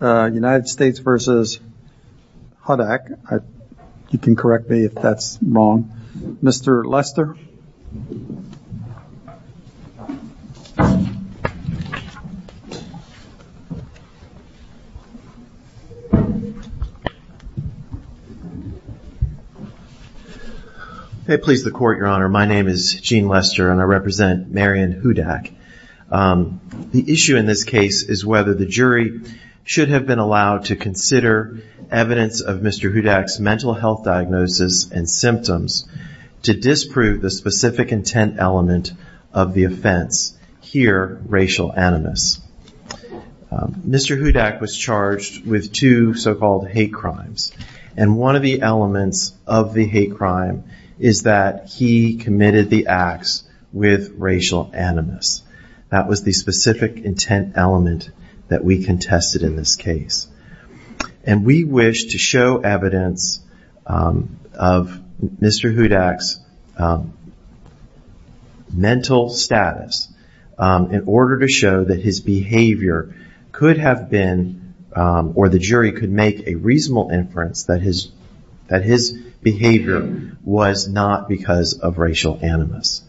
United States v. Hudak. You can correct me if that's wrong. Mr. Lester. Please the court, your honor. My name is Gene Lester and I represent Marian Hudak. The issue in this case is whether the jury should have been allowed to consider evidence of Mr. Hudak's mental health diagnosis and symptoms to disprove the specific intent element of the offense, here racial animus. Mr. Hudak was charged with two so-called hate crimes and one of the elements of the hate crime is that he committed the acts with racial animus. That was the specific intent element that we contested in this case and we wish to show evidence of Mr. Hudak's mental status in order to show that his behavior could have been or the was not because of racial animus.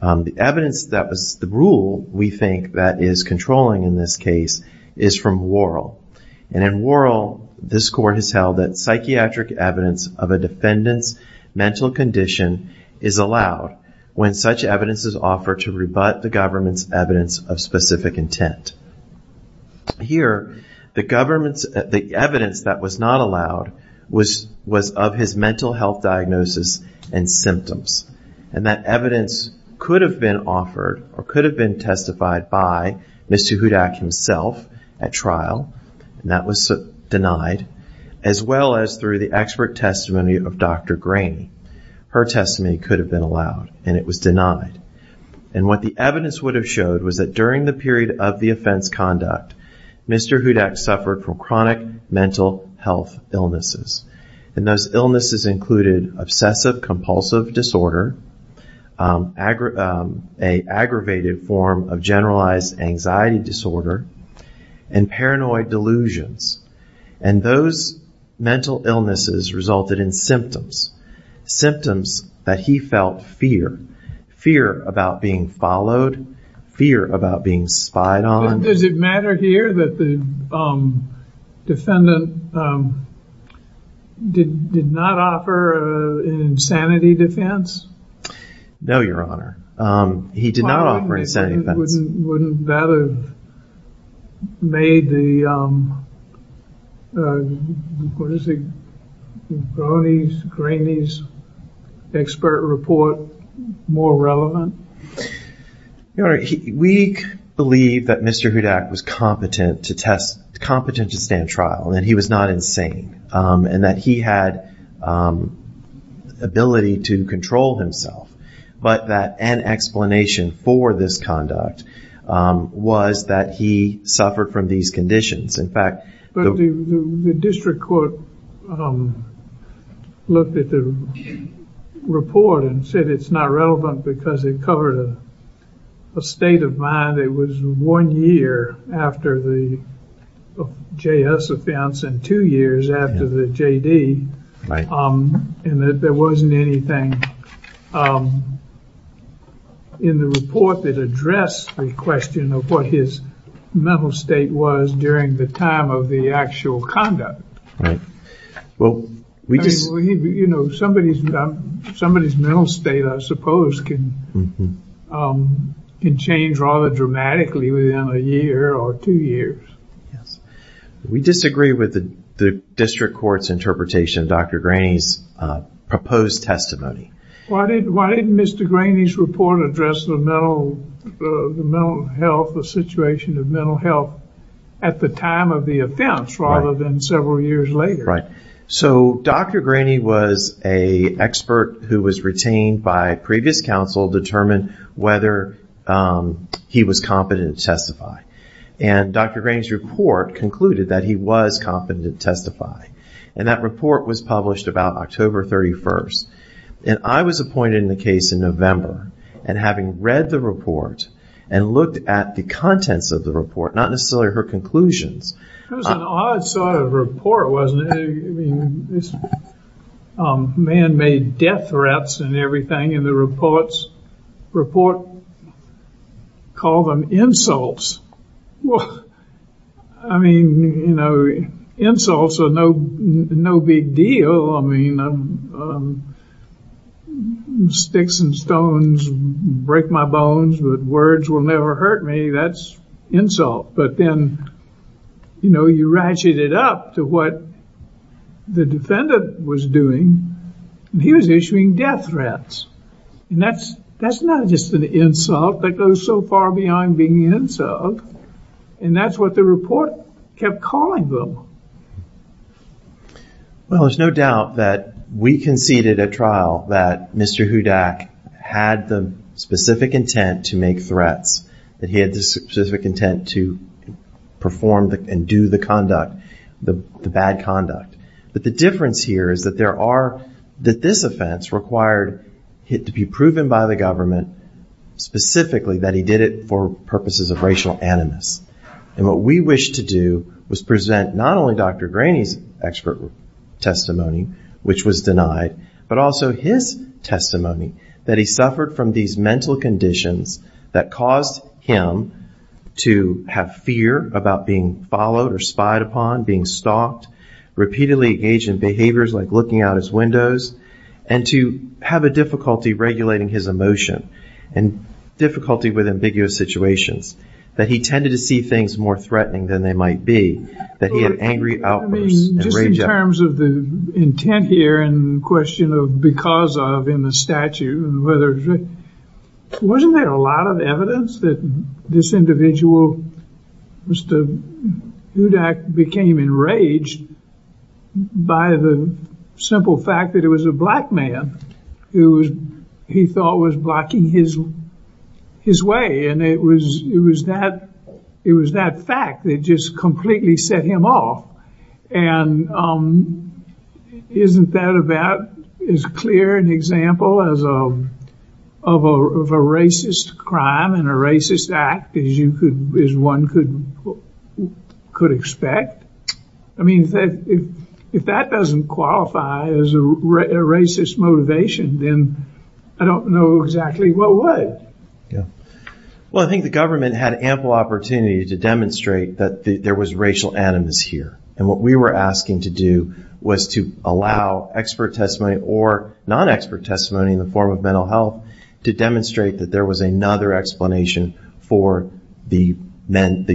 The evidence that was the rule we think that is controlling in this case is from Worrell and in Worrell this court has held that psychiatric evidence of a defendant's mental condition is allowed when such evidence is offered to rebut the government's evidence of specific intent. Here the government's the evidence that was not allowed was was of his mental health diagnosis and symptoms and that evidence could have been offered or could have been testified by Mr. Hudak himself at trial and that was denied as well as through the expert testimony of Dr. Graney. Her testimony could have been allowed and it was denied and what the evidence would have showed was that during the period of the offense conduct Mr. Hudak suffered from chronic mental health illnesses and those illnesses included obsessive-compulsive disorder, a aggravated form of generalized anxiety disorder, and paranoid delusions and those mental illnesses resulted in symptoms. Symptoms that he felt fear. Fear about being followed, fear about being lied on. Does it matter here that the defendant did not offer an insanity defense? No, your honor. He did not offer an insanity defense. Wouldn't that have made the Graney's expert report more relevant? Your honor, we believe that Mr. Hudak was competent to test, competent to stand trial and he was not insane and that he had ability to control himself but that an explanation for this conduct was that he suffered from these conditions. In fact, the district court looked at the report and said it's not relevant because it covered a state of mind. It was one year after the J.S. offense and two years after the J.D. and that there isn't anything in the report that addressed the question of what his mental state was during the time of the actual conduct. Well, you know, somebody's mental state I suppose can change rather dramatically within a year or two years. We disagree with the district court's interpretation of Dr. Graney's proposed testimony. Why didn't Mr. Graney's report address the mental health, the situation of mental health at the time of the offense rather than several years later? Right, so Dr. Graney was an expert who was retained by previous counsel to determine whether he was competent to testify and Dr. Graney's report concluded that he was competent to testify and that report was published about October 31st. And I was appointed in the case in November and having read the report and looked at the contents of the report, not necessarily her conclusions. It was an odd sort of report, wasn't it? Man-made death threats and everything and the report called them insults. Well, I mean, you know, insults are no big deal. I mean, sticks and stones break my bones but words will never hurt me. That's insult. But then, you know, you ratchet it up to what the defendant was doing. He was issuing death threats and that's not just an insult. That goes so far beyond being an insult and that's what the report kept calling them. Well, there's no doubt that we conceded at trial that Mr. Hudak had the specific intent to make threats, that he had the specific intent to perform and do the conduct, the bad conduct. But the difference here is that there are, that this offense required it to be proven by the government specifically that he did it for purposes of racial animus. And what we wish to do was present not only Dr. Graney's expert testimony, which was denied, but also his testimony that he suffered from these mental conditions that caused him to have fear about being followed or spied upon, being stalked, repeatedly engaged in behaviors like looking out his windows, and to have a difficulty regulating his emotion and difficulty with ambiguous situations that he tended to see things more threatening than they might be, that he had angry outbursts. I mean, just in terms of the intent here and the question of because of in the statute, wasn't there a lot of evidence that this individual, Mr. Hudak, became enraged by the simple fact that it was a black man who he thought was blocking his way? And it was that fact that just completely set him off. And isn't that about as clear an example as of a racist crime and a racist act as one could expect? I mean, if that doesn't qualify as a racist motivation, then I don't know exactly what would. Well, I think the government had ample opportunity to demonstrate that there was racial animus here. And what we were asking to do was to allow expert testimony or non-expert testimony in the form of mental health to demonstrate that there was another explanation for the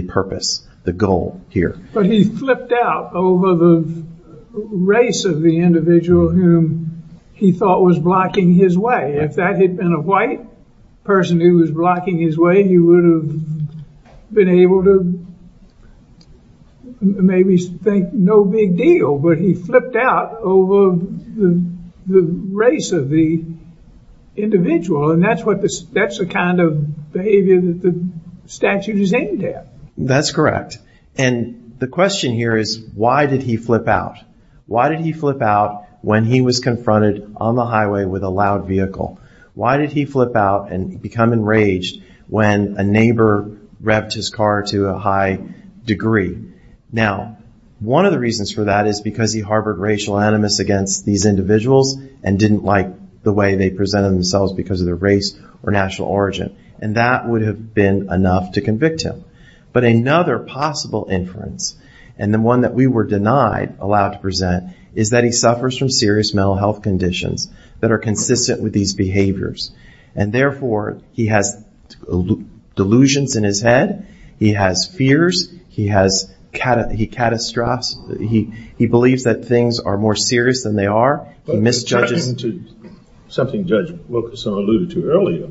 purpose, the goal here. But he flipped out over the race of the individual whom he thought was blocking his way. If that had been a white person who was blocking his way, he would have been able to maybe think no big deal. But he flipped out over the race of the individual. And that's what this that's the kind of behavior that the statute is aimed at. That's correct. And the question here is, why did he flip out? Why did he flip out when he was confronted on the highway with a loud vehicle? Why did he flip out and become enraged when a neighbor revved his car to a high degree? Now, one of the reasons for that is because he harbored racial animus against these individuals and didn't like the way they presented themselves because of their race or national origin. And that would have been enough to convict him. But another possible inference and the one that we were denied, allowed to present, is that he suffers from serious mental health conditions that are consistent with these behaviors. And therefore, he has delusions in his head. He has fears. He has, he catastrophes. He believes that things are more serious than they are. He misjudges. Something Judge Wilkerson alluded to earlier,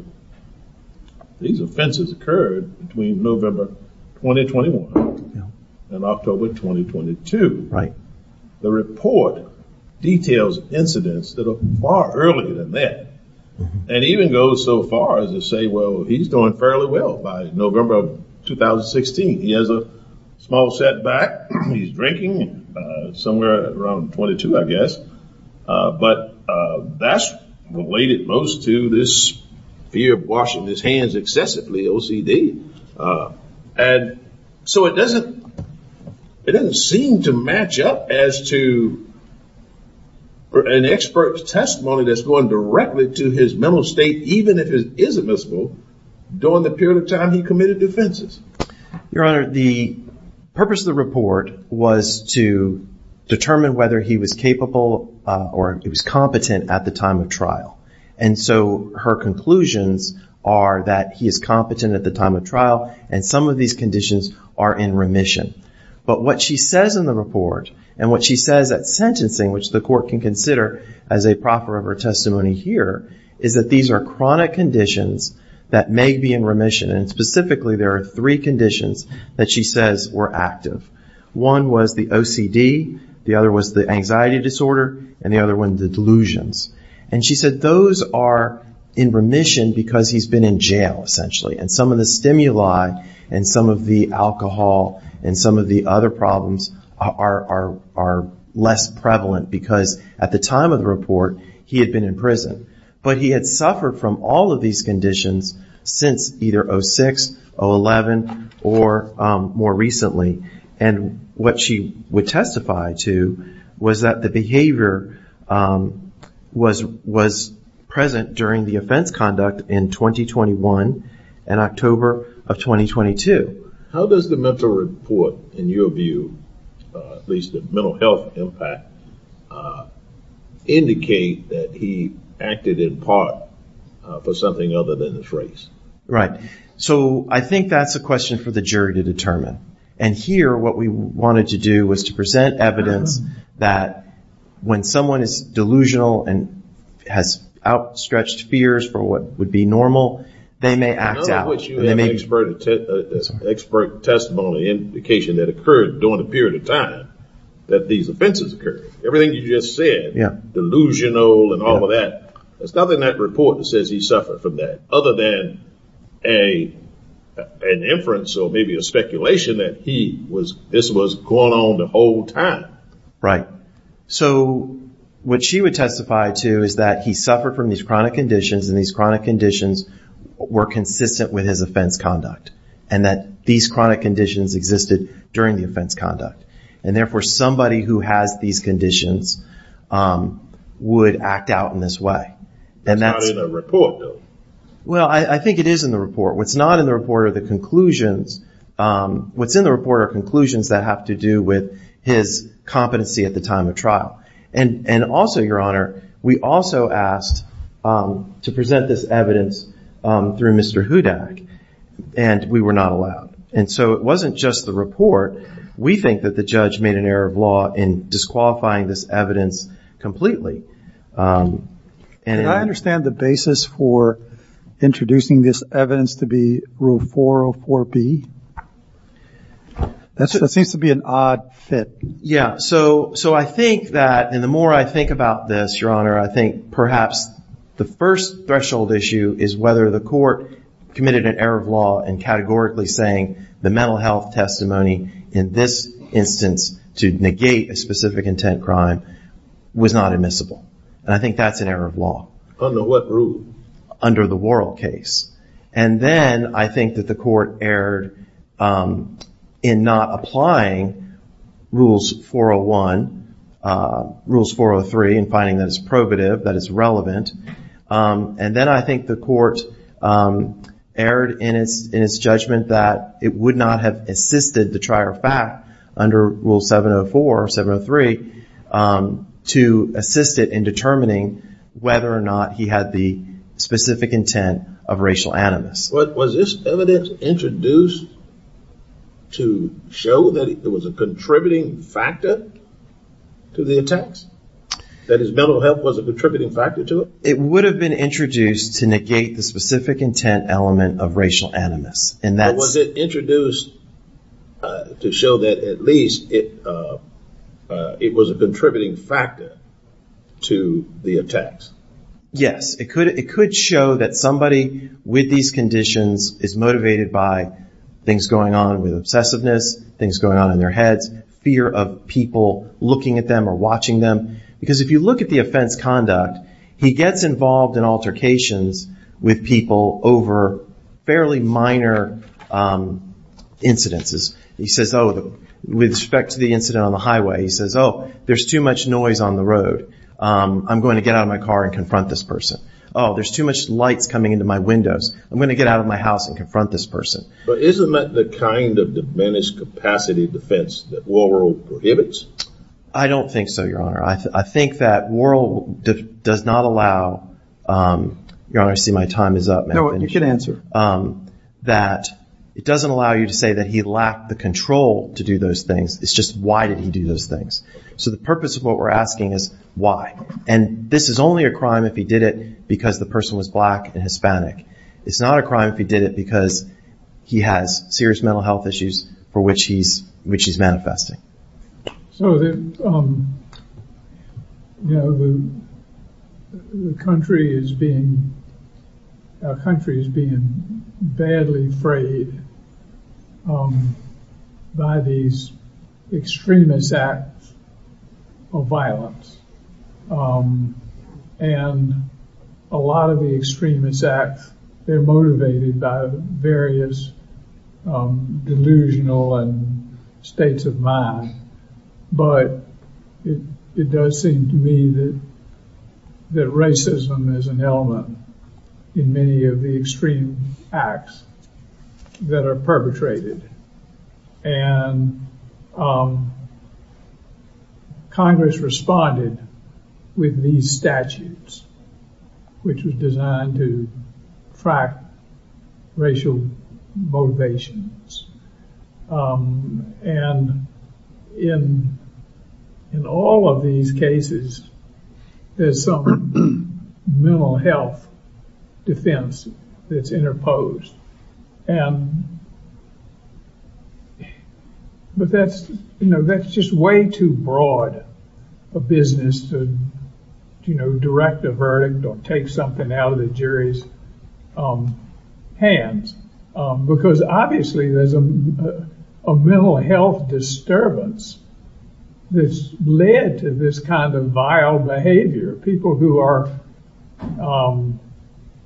these offenses occurred between November 2021 and October 2022. Right. The report details incidents that are far earlier than that. And even goes so far as to say, well, he's doing fairly well by November of 2016. He has a small setback. He's drinking somewhere around 22, I guess. But that's related most to this fear of washing his hands excessively, OCD. And so it doesn't, it doesn't seem to match up as to an expert's testimony that's going directly to his mental state, even if it is admissible, during the period of time he committed offenses. Your Honor, the purpose of the report was to determine whether he was capable or he was competent at the time of trial. And so her conclusions are that he is competent at the time of trial and some of these conditions are in remission. But what she says in the report and what she says at sentencing, which the court can consider as a proffer of her testimony here, is that these are chronic conditions that may be in remission. And specifically, there are three conditions that she says were active. One was the OCD, the other was the anxiety disorder, and the other one, the delusions. And she said those are in remission because he's been in jail, essentially. And some of the stimuli and some of the alcohol and some of the other problems are less prevalent because at the time of the report, he had been in prison. But he had suffered from all of these conditions since either 2006, 011, or more recently. And what she would testify to was that the behavior was present during the offense conduct in 2021 and October of 2022. How does the mental report, in your view, at least the mental health impact, indicate that he acted in part for something other than his race? Right. So I think that's a question for the jury to determine. And here, what we wanted to do was to present evidence that when someone is delusional and has outstretched fears for what would be normal, they may act out. None of which you have an expert testimony indication that occurred during the period of time that these offenses occurred. Everything you just said, delusional and all of that, there's nothing in that report that says he suffered from that other than an inference or maybe a speculation that he was, this was going on the whole time. Right. So what she would testify to is that he suffered from these chronic conditions and these chronic conditions were consistent with his offense conduct and that these chronic conditions existed during the offense conduct. And therefore, somebody who has these conditions would act out in this way. It's not in the report, though. Well, I think it is in the report. What's not in the report are the conclusions. What's in the report are conclusions that have to do with his competency at the time of trial. And also, Your Honor, we also asked to present this evidence through Mr. Hudak and we were not allowed. And so it wasn't just the report. We think that the judge made an error of law in disqualifying this evidence completely. And I understand the basis for introducing this evidence to be Rule 404B. That seems to be an odd fit. Yeah. So I think that, and the more I think about this, Your Honor, I think perhaps the first threshold issue is whether the court committed an error of law in categorically saying the mental health testimony in this instance to negate a specific intent crime was not admissible. And I think that's an error of law. Under what rule? Under the Worrell case. And then I think that the court erred in not applying Rules 401, Rules 403 and finding that it's probative, that it's relevant. And then I think the court erred in its judgment that it would not have assisted the trier of fact under Rule 704 or 703 to assist it in determining whether or not he had the specific intent of racial animus. Was this evidence introduced to show that it was a contributing factor to the attacks? That his mental health was a contributing factor to it? It would have been introduced to negate the specific intent element of racial animus. But was it introduced to show that at least it was a contributing factor to the attacks? Yes. It could show that somebody with these conditions is motivated by things going on with obsessiveness, things going on in their heads, fear of people looking at them or watching them. Because if you look at the offense conduct, he gets involved in altercations with people over fairly minor incidences. He says, oh, with respect to the incident on the highway, he says, oh, there's too much noise on the road. I'm going to get out of my car and confront this person. Oh, there's too much lights coming into my windows. I'm going to get out of my house and confront this person. But isn't that the kind of diminished capacity defense that Worrell prohibits? I don't think so, Your Honor. I think that Worrell does not allow, Your Honor, I see my time is up. No, you can answer. That it doesn't allow you to say that he lacked the control to do those things. It's just why did he do those things? So the purpose of what we're asking is why? And this is only a crime if he did it because the person was black and Hispanic. It's not a crime if he did it because he has serious mental health issues for which he's manifesting. So, you know, the country is being, our country is being badly frayed by these extremist acts of violence. And a lot of the extremist acts, they're But it does seem to me that that racism is an element in many of the extreme acts that are perpetrated. And Congress responded with these statutes, which was designed to track racial motivations. And in all of these cases, there's some mental health defense that's interposed. But that's, you know, that's just way too broad a business to, you know, direct a verdict or take something out of the jury's hands. Because obviously, there's a mental health disturbance that's led to this kind of vile behavior. People who are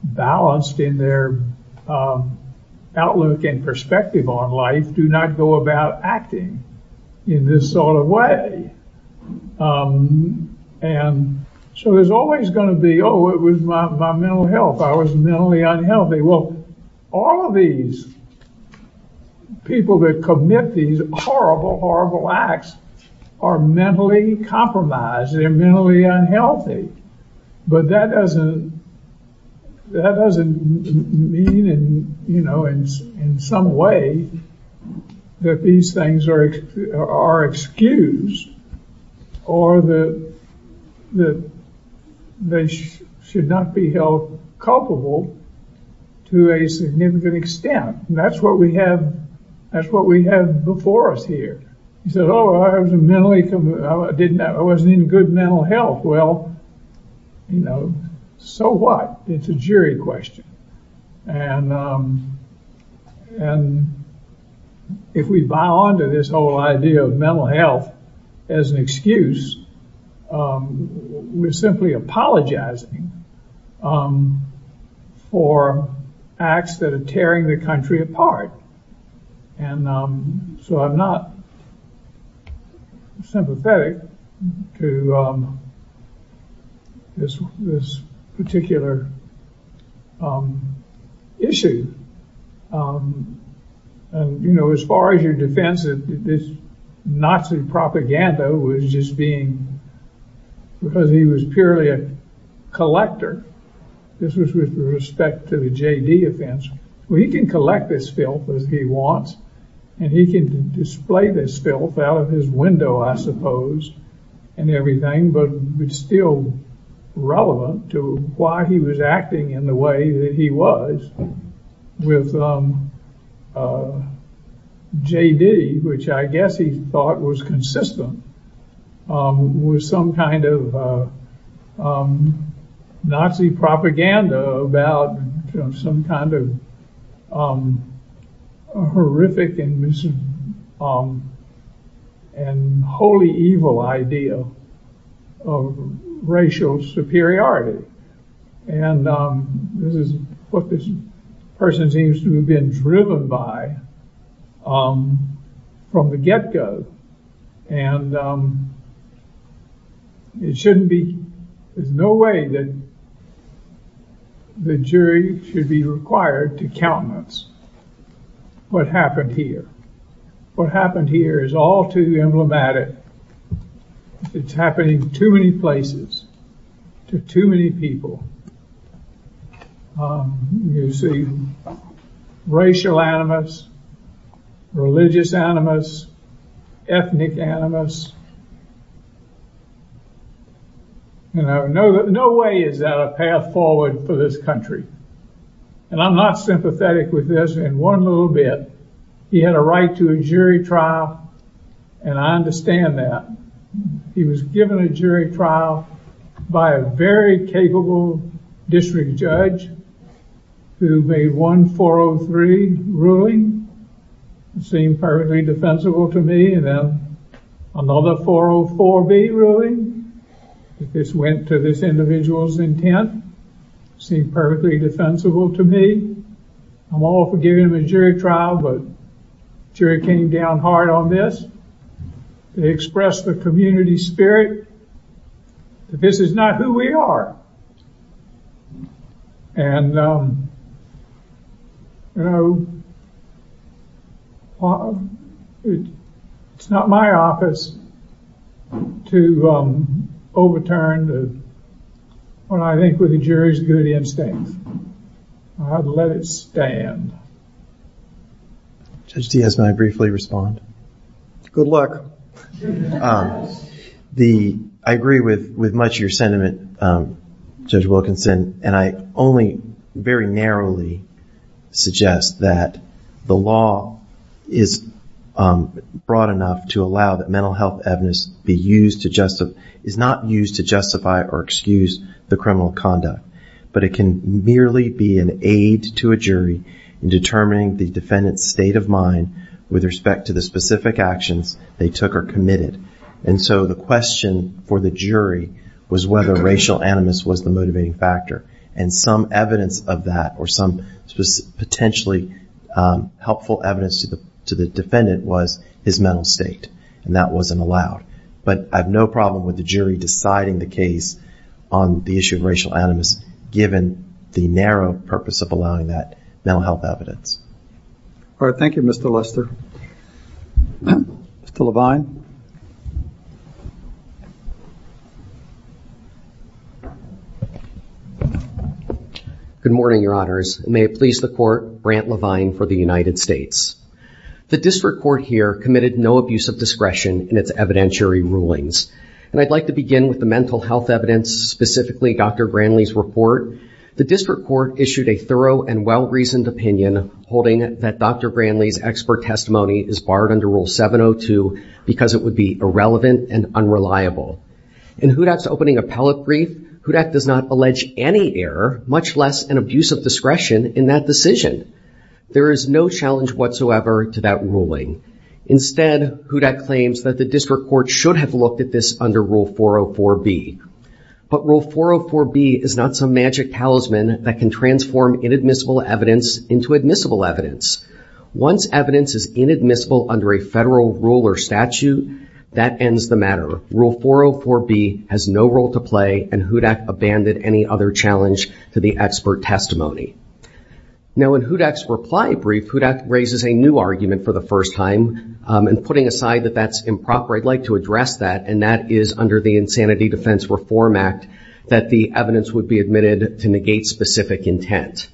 balanced in their outlook and perspective on life do not go about acting in this sort of way. And so there's always going to be, oh, it was my mental health, I was mentally unhealthy. Well, all of these people that commit these horrible, horrible acts are mentally compromised, they're mentally unhealthy. But that doesn't, that doesn't mean and, you know, in some way, that these things are, are excused, or that that they should not be held culpable, to a significant extent. That's what we have. That's what we have before us here. He said, Oh, I was mentally com- I didn't, I wasn't in good mental health. Well, you know, so what? It's a great question. And, and if we buy on to this whole idea of mental health, as an excuse, we're simply apologizing for acts that are tearing the country apart. And, you know, as far as your defense of this Nazi propaganda was just being, because he was purely a collector. This was with respect to the JD offense. Well, he can collect this filth as he wants. And he can display this filth out of his window, I suppose, and everything, but it's still relevant to why he was acting in the way that he was with JD, which I guess he thought was consistent with some kind of Nazi propaganda about some kind of horrific and holy evil idea of racial superiority. And this is what this person seems to have been driven by from the get go. And it shouldn't be, there's no way that the jury should be required to countenance what happened here. What happened here is all too emblematic. It's happening too many places to too many people. You see, racial animus, religious animus, ethnic animus. And I know that no way is that a path forward for this country. And I'm not sympathetic with this in one little bit. He had a right to a jury trial. And I understand that. He was given a jury trial by a very capable district judge who made one 403 ruling seemed perfectly defensible to me and then another 404B ruling. This went to this individual's intent, seemed perfectly defensible to me. I'm all for giving him a jury trial, but jury came down hard on this. They expressed the community spirit that this is not who we are. And, you know, it's not my office to overturn what I think were the jury's good instincts. I'd let it stand. Judge Diaz, may I briefly respond? Good luck. The, I agree with with much your sentiment, Judge Wilkinson, and I only very narrowly suggest that the law is broad enough to allow that mental health evidence be used to justify, is not used to justify or excuse the criminal conduct. But it can merely be an aid to a jury in determining the defendant's state of mind with respect to the specific actions they took or committed. And so the question for the jury was whether racial animus was the motivating factor. And some evidence of that or some potentially helpful evidence to the defendant was his mental state, and that wasn't allowed. But I have no problem with the jury deciding the case on the issue of racial animus, given the narrow purpose of allowing that mental health evidence. All right. Thank you, Mr. Lester. Mr. Levine. Good morning, your honors. May it please the court, Brant Levine for the United States. The district court here committed no abuse of discretion in its evidentiary rulings. And I'd like to begin with the mental health evidence, specifically Dr. Granley's report. The district court issued a thorough and well-reasoned opinion, holding that Dr. Granley's expert testimony is barred under Rule 702 because it would be irrelevant and unreliable. In HUDAC's opening appellate brief, HUDAC does not allege any error, much less an abuse of discretion in that decision. There is no challenge whatsoever to that ruling. Instead, HUDAC claims that the district court should have looked at this under Rule 404B. But Rule 404B is not some magic talisman that can transform inadmissible evidence into admissible evidence. Once evidence is inadmissible under a federal rule or statute, that ends the matter. Rule 404B has no role to play, and HUDAC abandoned any other challenge to the expert testimony. Now in HUDAC's reply brief, HUDAC raises a new argument for the first time, and putting aside that that's improper, I'd like to address that, and that is under the Insanity Defense Reform Act, that the evidence would be admitted to negate specific intent.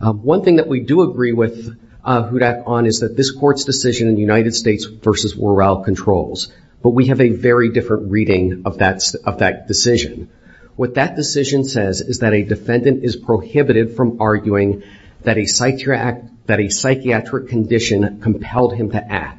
One thing that we do agree with HUDAC on is that this court's decision in the United States versus Worrell controls. But we have a very different reading of that decision. What that decision says is that a defendant is prohibited from arguing that a psychiatric condition compelled him to act.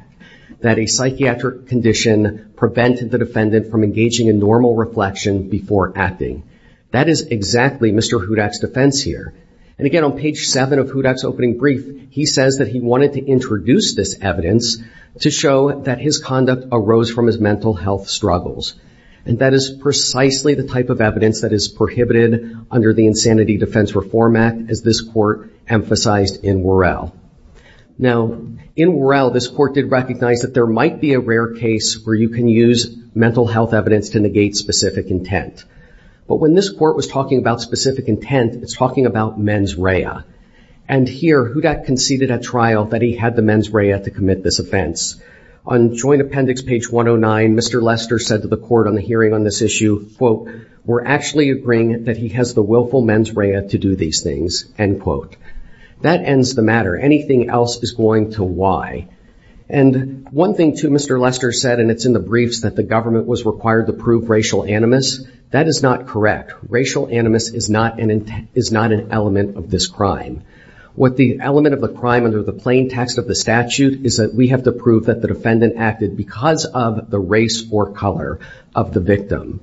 That a psychiatric condition prevented the defendant from engaging in normal reflection before acting. That is exactly Mr. HUDAC's defense here. And again, on page 7 of HUDAC's opening brief, he says that he wanted to introduce this evidence to show that his conduct arose from his mental health struggles. And that is precisely the type of evidence that is prohibited under the Insanity Defense Reform Act, as this court emphasized in Worrell. Now in Worrell, this court did recognize that there might be a rare case where you can use mental health evidence to negate specific intent. But when this court was talking about specific intent, it's talking about mens rea. And here, HUDAC conceded at trial that he had the mens rea to commit this offense. On Joint Appendix page 109, Mr. Lester said to the court on the hearing on this issue, quote, we're actually agreeing that he has the willful mens rea to do these things, end quote. That ends the matter. Anything else is going to lie. And one thing, too, Mr. Lester said, and it's in the briefs, that the government was required to prove racial animus. That is not correct. Racial animus is not an element of this crime. What the element of the crime under the plain text of the statute is that we have to prove that the defendant acted because of the race or color of the victim.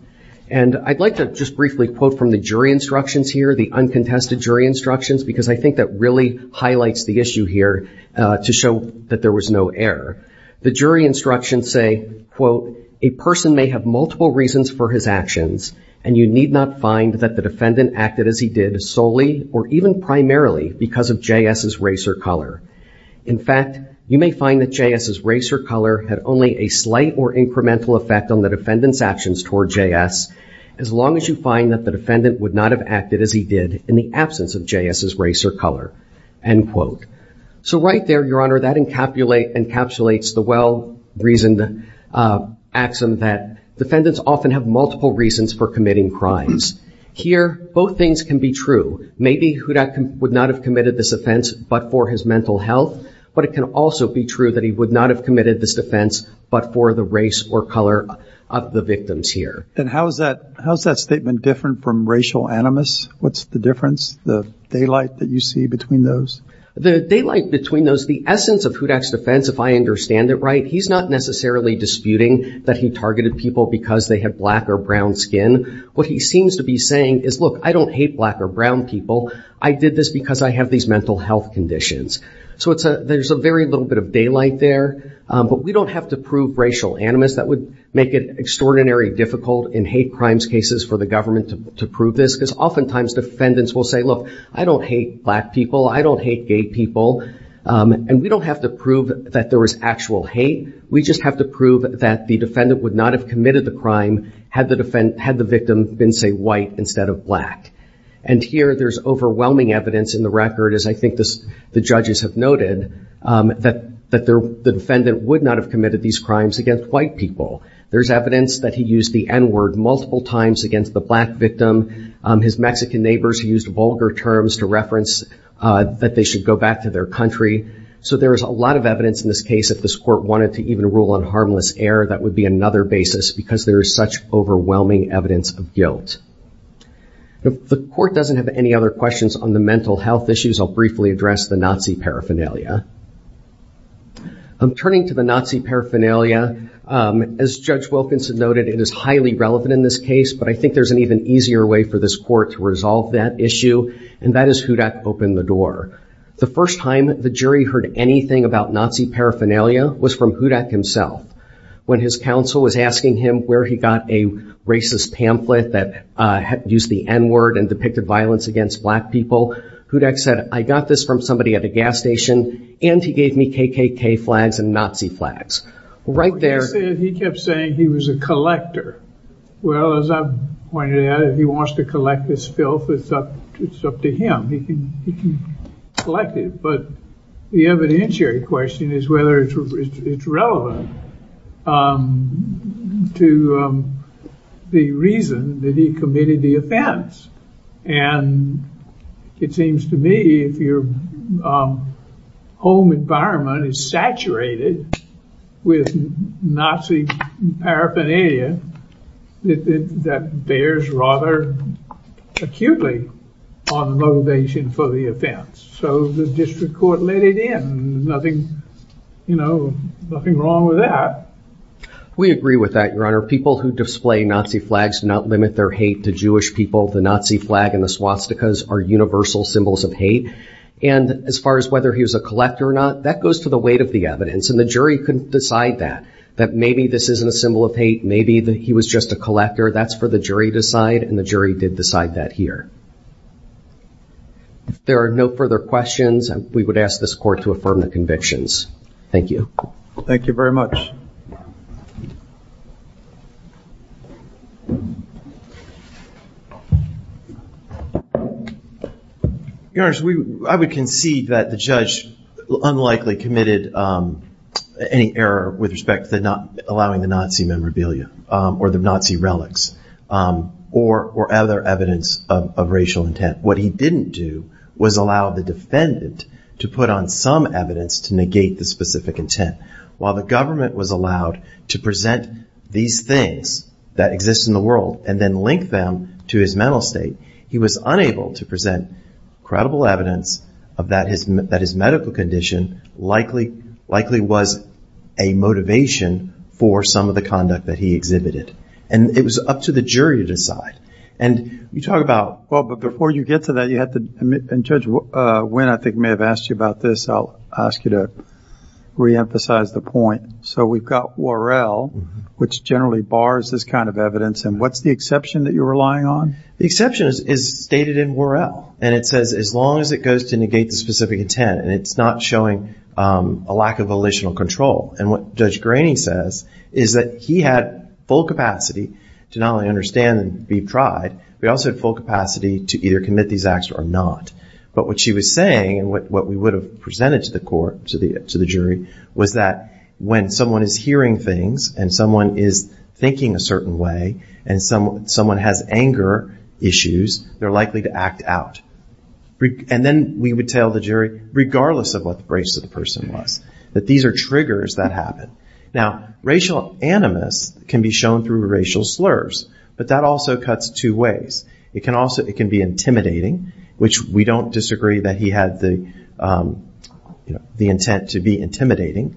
And I'd like to just briefly quote from the jury instructions here, the uncontested jury instructions, because I think that really highlights the issue here to show that there was no error. The jury instructions say, quote, a person may have multiple reasons for his actions, and you need not find that the defendant acted as he did solely or even primarily because of J.S.'s race or color. In fact, you may find that J.S.'s race or color had only a slight or incremental effect on the defendant's actions toward J.S. as long as you find that the defendant would not have acted as he did in the absence of J.S.'s race or color, end quote. So right there, Your Honor, that encapsulates the well-reasoned axiom that defendants often have multiple reasons for committing crimes. Here, both things can be true. Maybe Hudak would not have committed this offense but for his mental health, but it can also be true that he would not have committed this defense but for the race or color of the victims here. And how is that statement different from racial animus? What's the difference, the daylight that you see between those? The daylight between those, the essence of Hudak's defense, if I understand it right, he's not necessarily disputing that he targeted people because they had black or brown skin. What he seems to be saying is, look, I don't hate black or brown people. I did this because I have these mental health conditions. So there's a very little bit of daylight there, but we don't have to prove racial animus. That would make it extraordinarily difficult in hate crimes cases for the government to prove this because oftentimes defendants will say, look, I don't hate black people. I don't hate gay people. And we don't have to prove that there was actual hate. We just have to prove that the defendant would not have committed the crime had the victim been, say, white instead of black. And here there's overwhelming evidence in the record, as I think the judges have noted, that the defendant would not have committed these crimes against white people. There's evidence that he used the n-word multiple times against the black victim. His Mexican neighbors used vulgar terms to reference that they should go back to their country. So there is a lot of evidence in this case if this court wanted to even rule on harmless error that would be another basis because there is such overwhelming evidence of guilt. If the court doesn't have any other questions on the mental health issues, I'll briefly address the Nazi paraphernalia. I'm turning to the Nazi paraphernalia. As Judge Wilkinson noted, it is highly relevant in this case, but I think there's an even easier way for this court to resolve that issue, and that is Hudak opened the door. The first time the jury heard anything about Nazi paraphernalia was from Hudak himself. When his counsel was asking him where he got a racist pamphlet that used the n-word and depicted violence against black people, Hudak said, I got this from somebody at a gas station and he gave me KKK flags and Nazi flags. Right there. He kept saying he was a collector. Well, as I pointed out, if he wants to collect this filth, it's up to him. He can collect it, but the evidentiary question is whether it's relevant to the reason that he committed the offense, and it seems to me if your home environment is saturated with Nazi paraphernalia, that bears rather acutely on the foundation for the offense. So the district court let it in. Nothing, you know, nothing wrong with that. We agree with that, Your Honor. People who display Nazi flags do not limit their hate to Jewish people. The Nazi flag and the swastikas are universal symbols of hate, and as far as whether he was a collector or not, that goes to the weight of the evidence, and the jury couldn't decide that. That maybe this isn't a symbol of hate, maybe that he was just a collector. That's for the jury to decide, and the jury did decide that here. If there are no further questions, we would ask this court to affirm the convictions. Thank you. Thank you very much. Your Honor, I would concede that the judge unlikely committed any error with respect to not allowing the Nazi memorabilia or the Nazi relics or other evidence of racial intent. What he didn't do was allow the defendant to put on some evidence to negate the specific intent. While the government was allowed to present these things that exist in the world and then link them to his mental state, he was unable to present credible evidence of that his medical condition likely was a motivation for some of the conduct that he exhibited, and it was up to the jury to decide, and you talk about... Well, but before you get to that, you have to admit, and Judge Winn, I think, may have asked you about this. I'll ask you to reemphasize the point. So we've got Worrell, which generally bars this kind of evidence, and what's the exception that you're relying on? The exception is stated in Worrell, and it says as long as it goes to negate the specific intent, and it's not showing a lack of volitional control, and what Judge Graney says is that he had full capacity to not only understand and be tried, but he also had full capacity to either commit these acts or not. But what she was saying, and what we would have presented to the court, to the jury, was that when someone is hearing things and someone is thinking a certain way and someone has anger issues, they're likely to act out. And then we would tell the jury, regardless of what the race of the person was, that these are triggers that happen. Now, racial animus can be shown through racial slurs, but that also cuts two ways. It can be intimidating, which we don't disagree that he had the intent to be intimidating,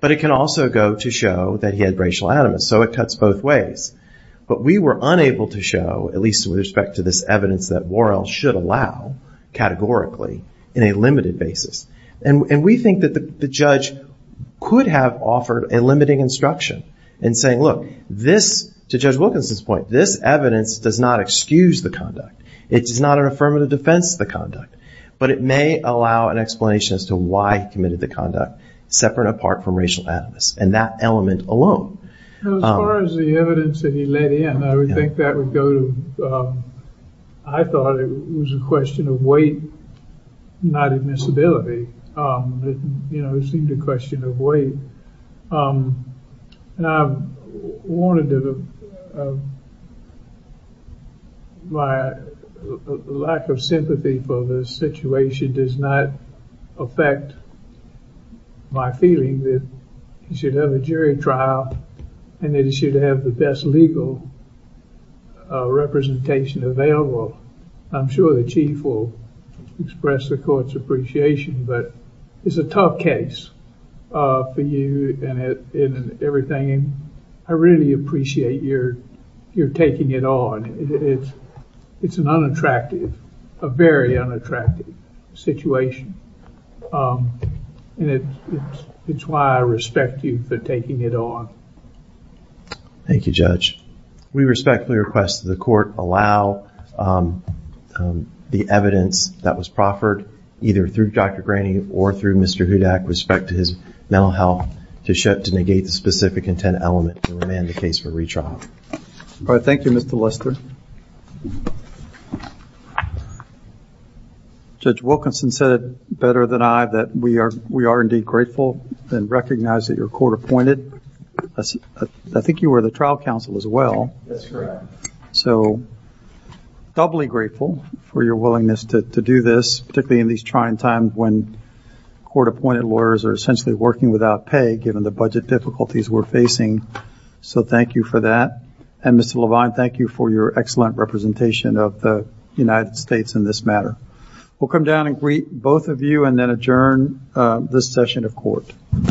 but it can also go to show that he had racial animus. So it cuts both ways. But we were unable to show, at least with respect to this evidence that Worrell should allow categorically in a limited basis. And we think that the judge could have offered a limiting instruction in saying, look, this, to Judge Wilkinson's point, this evidence does not excuse the conduct. It is not an affirmative defense of the conduct, but it may allow an explanation as to why he committed the conduct, separate and apart from racial animus, and that element alone. As far as the evidence that he let in, I would think that would go to, I thought it was a question of weight, not admissibility. You know, it seemed a question of weight. And I wanted to, my lack of sympathy for the situation does not affect my feeling that he should have a jury trial, and that he should have the best legal representation available. I'm sure the chief will express the court's appreciation, but it's a tough case for you and everything. I really appreciate your taking it on. It's an unattractive, a very unattractive situation. And it's why I respect you for taking it on. Thank you, Judge. We respectfully request that the court allow the evidence that was proffered, either through Dr. Graney or through Mr. Hudak, with respect to his mental health, to negate the specific intent element to remand the case for retrial. All right. Thank you, Mr. Lister. Judge Wilkinson said better than I that we are, we are indeed grateful and recognize that your court appointed, I think you were the trial counsel as well, so doubly grateful for your willingness to do this, particularly in these trying times when court appointed lawyers are essentially working without pay, given the budget difficulties we're facing. So thank you for that. And Mr. Levine, thank you for your excellent representation of the United States in this matter. We'll come down and greet both of you and then adjourn this session of court.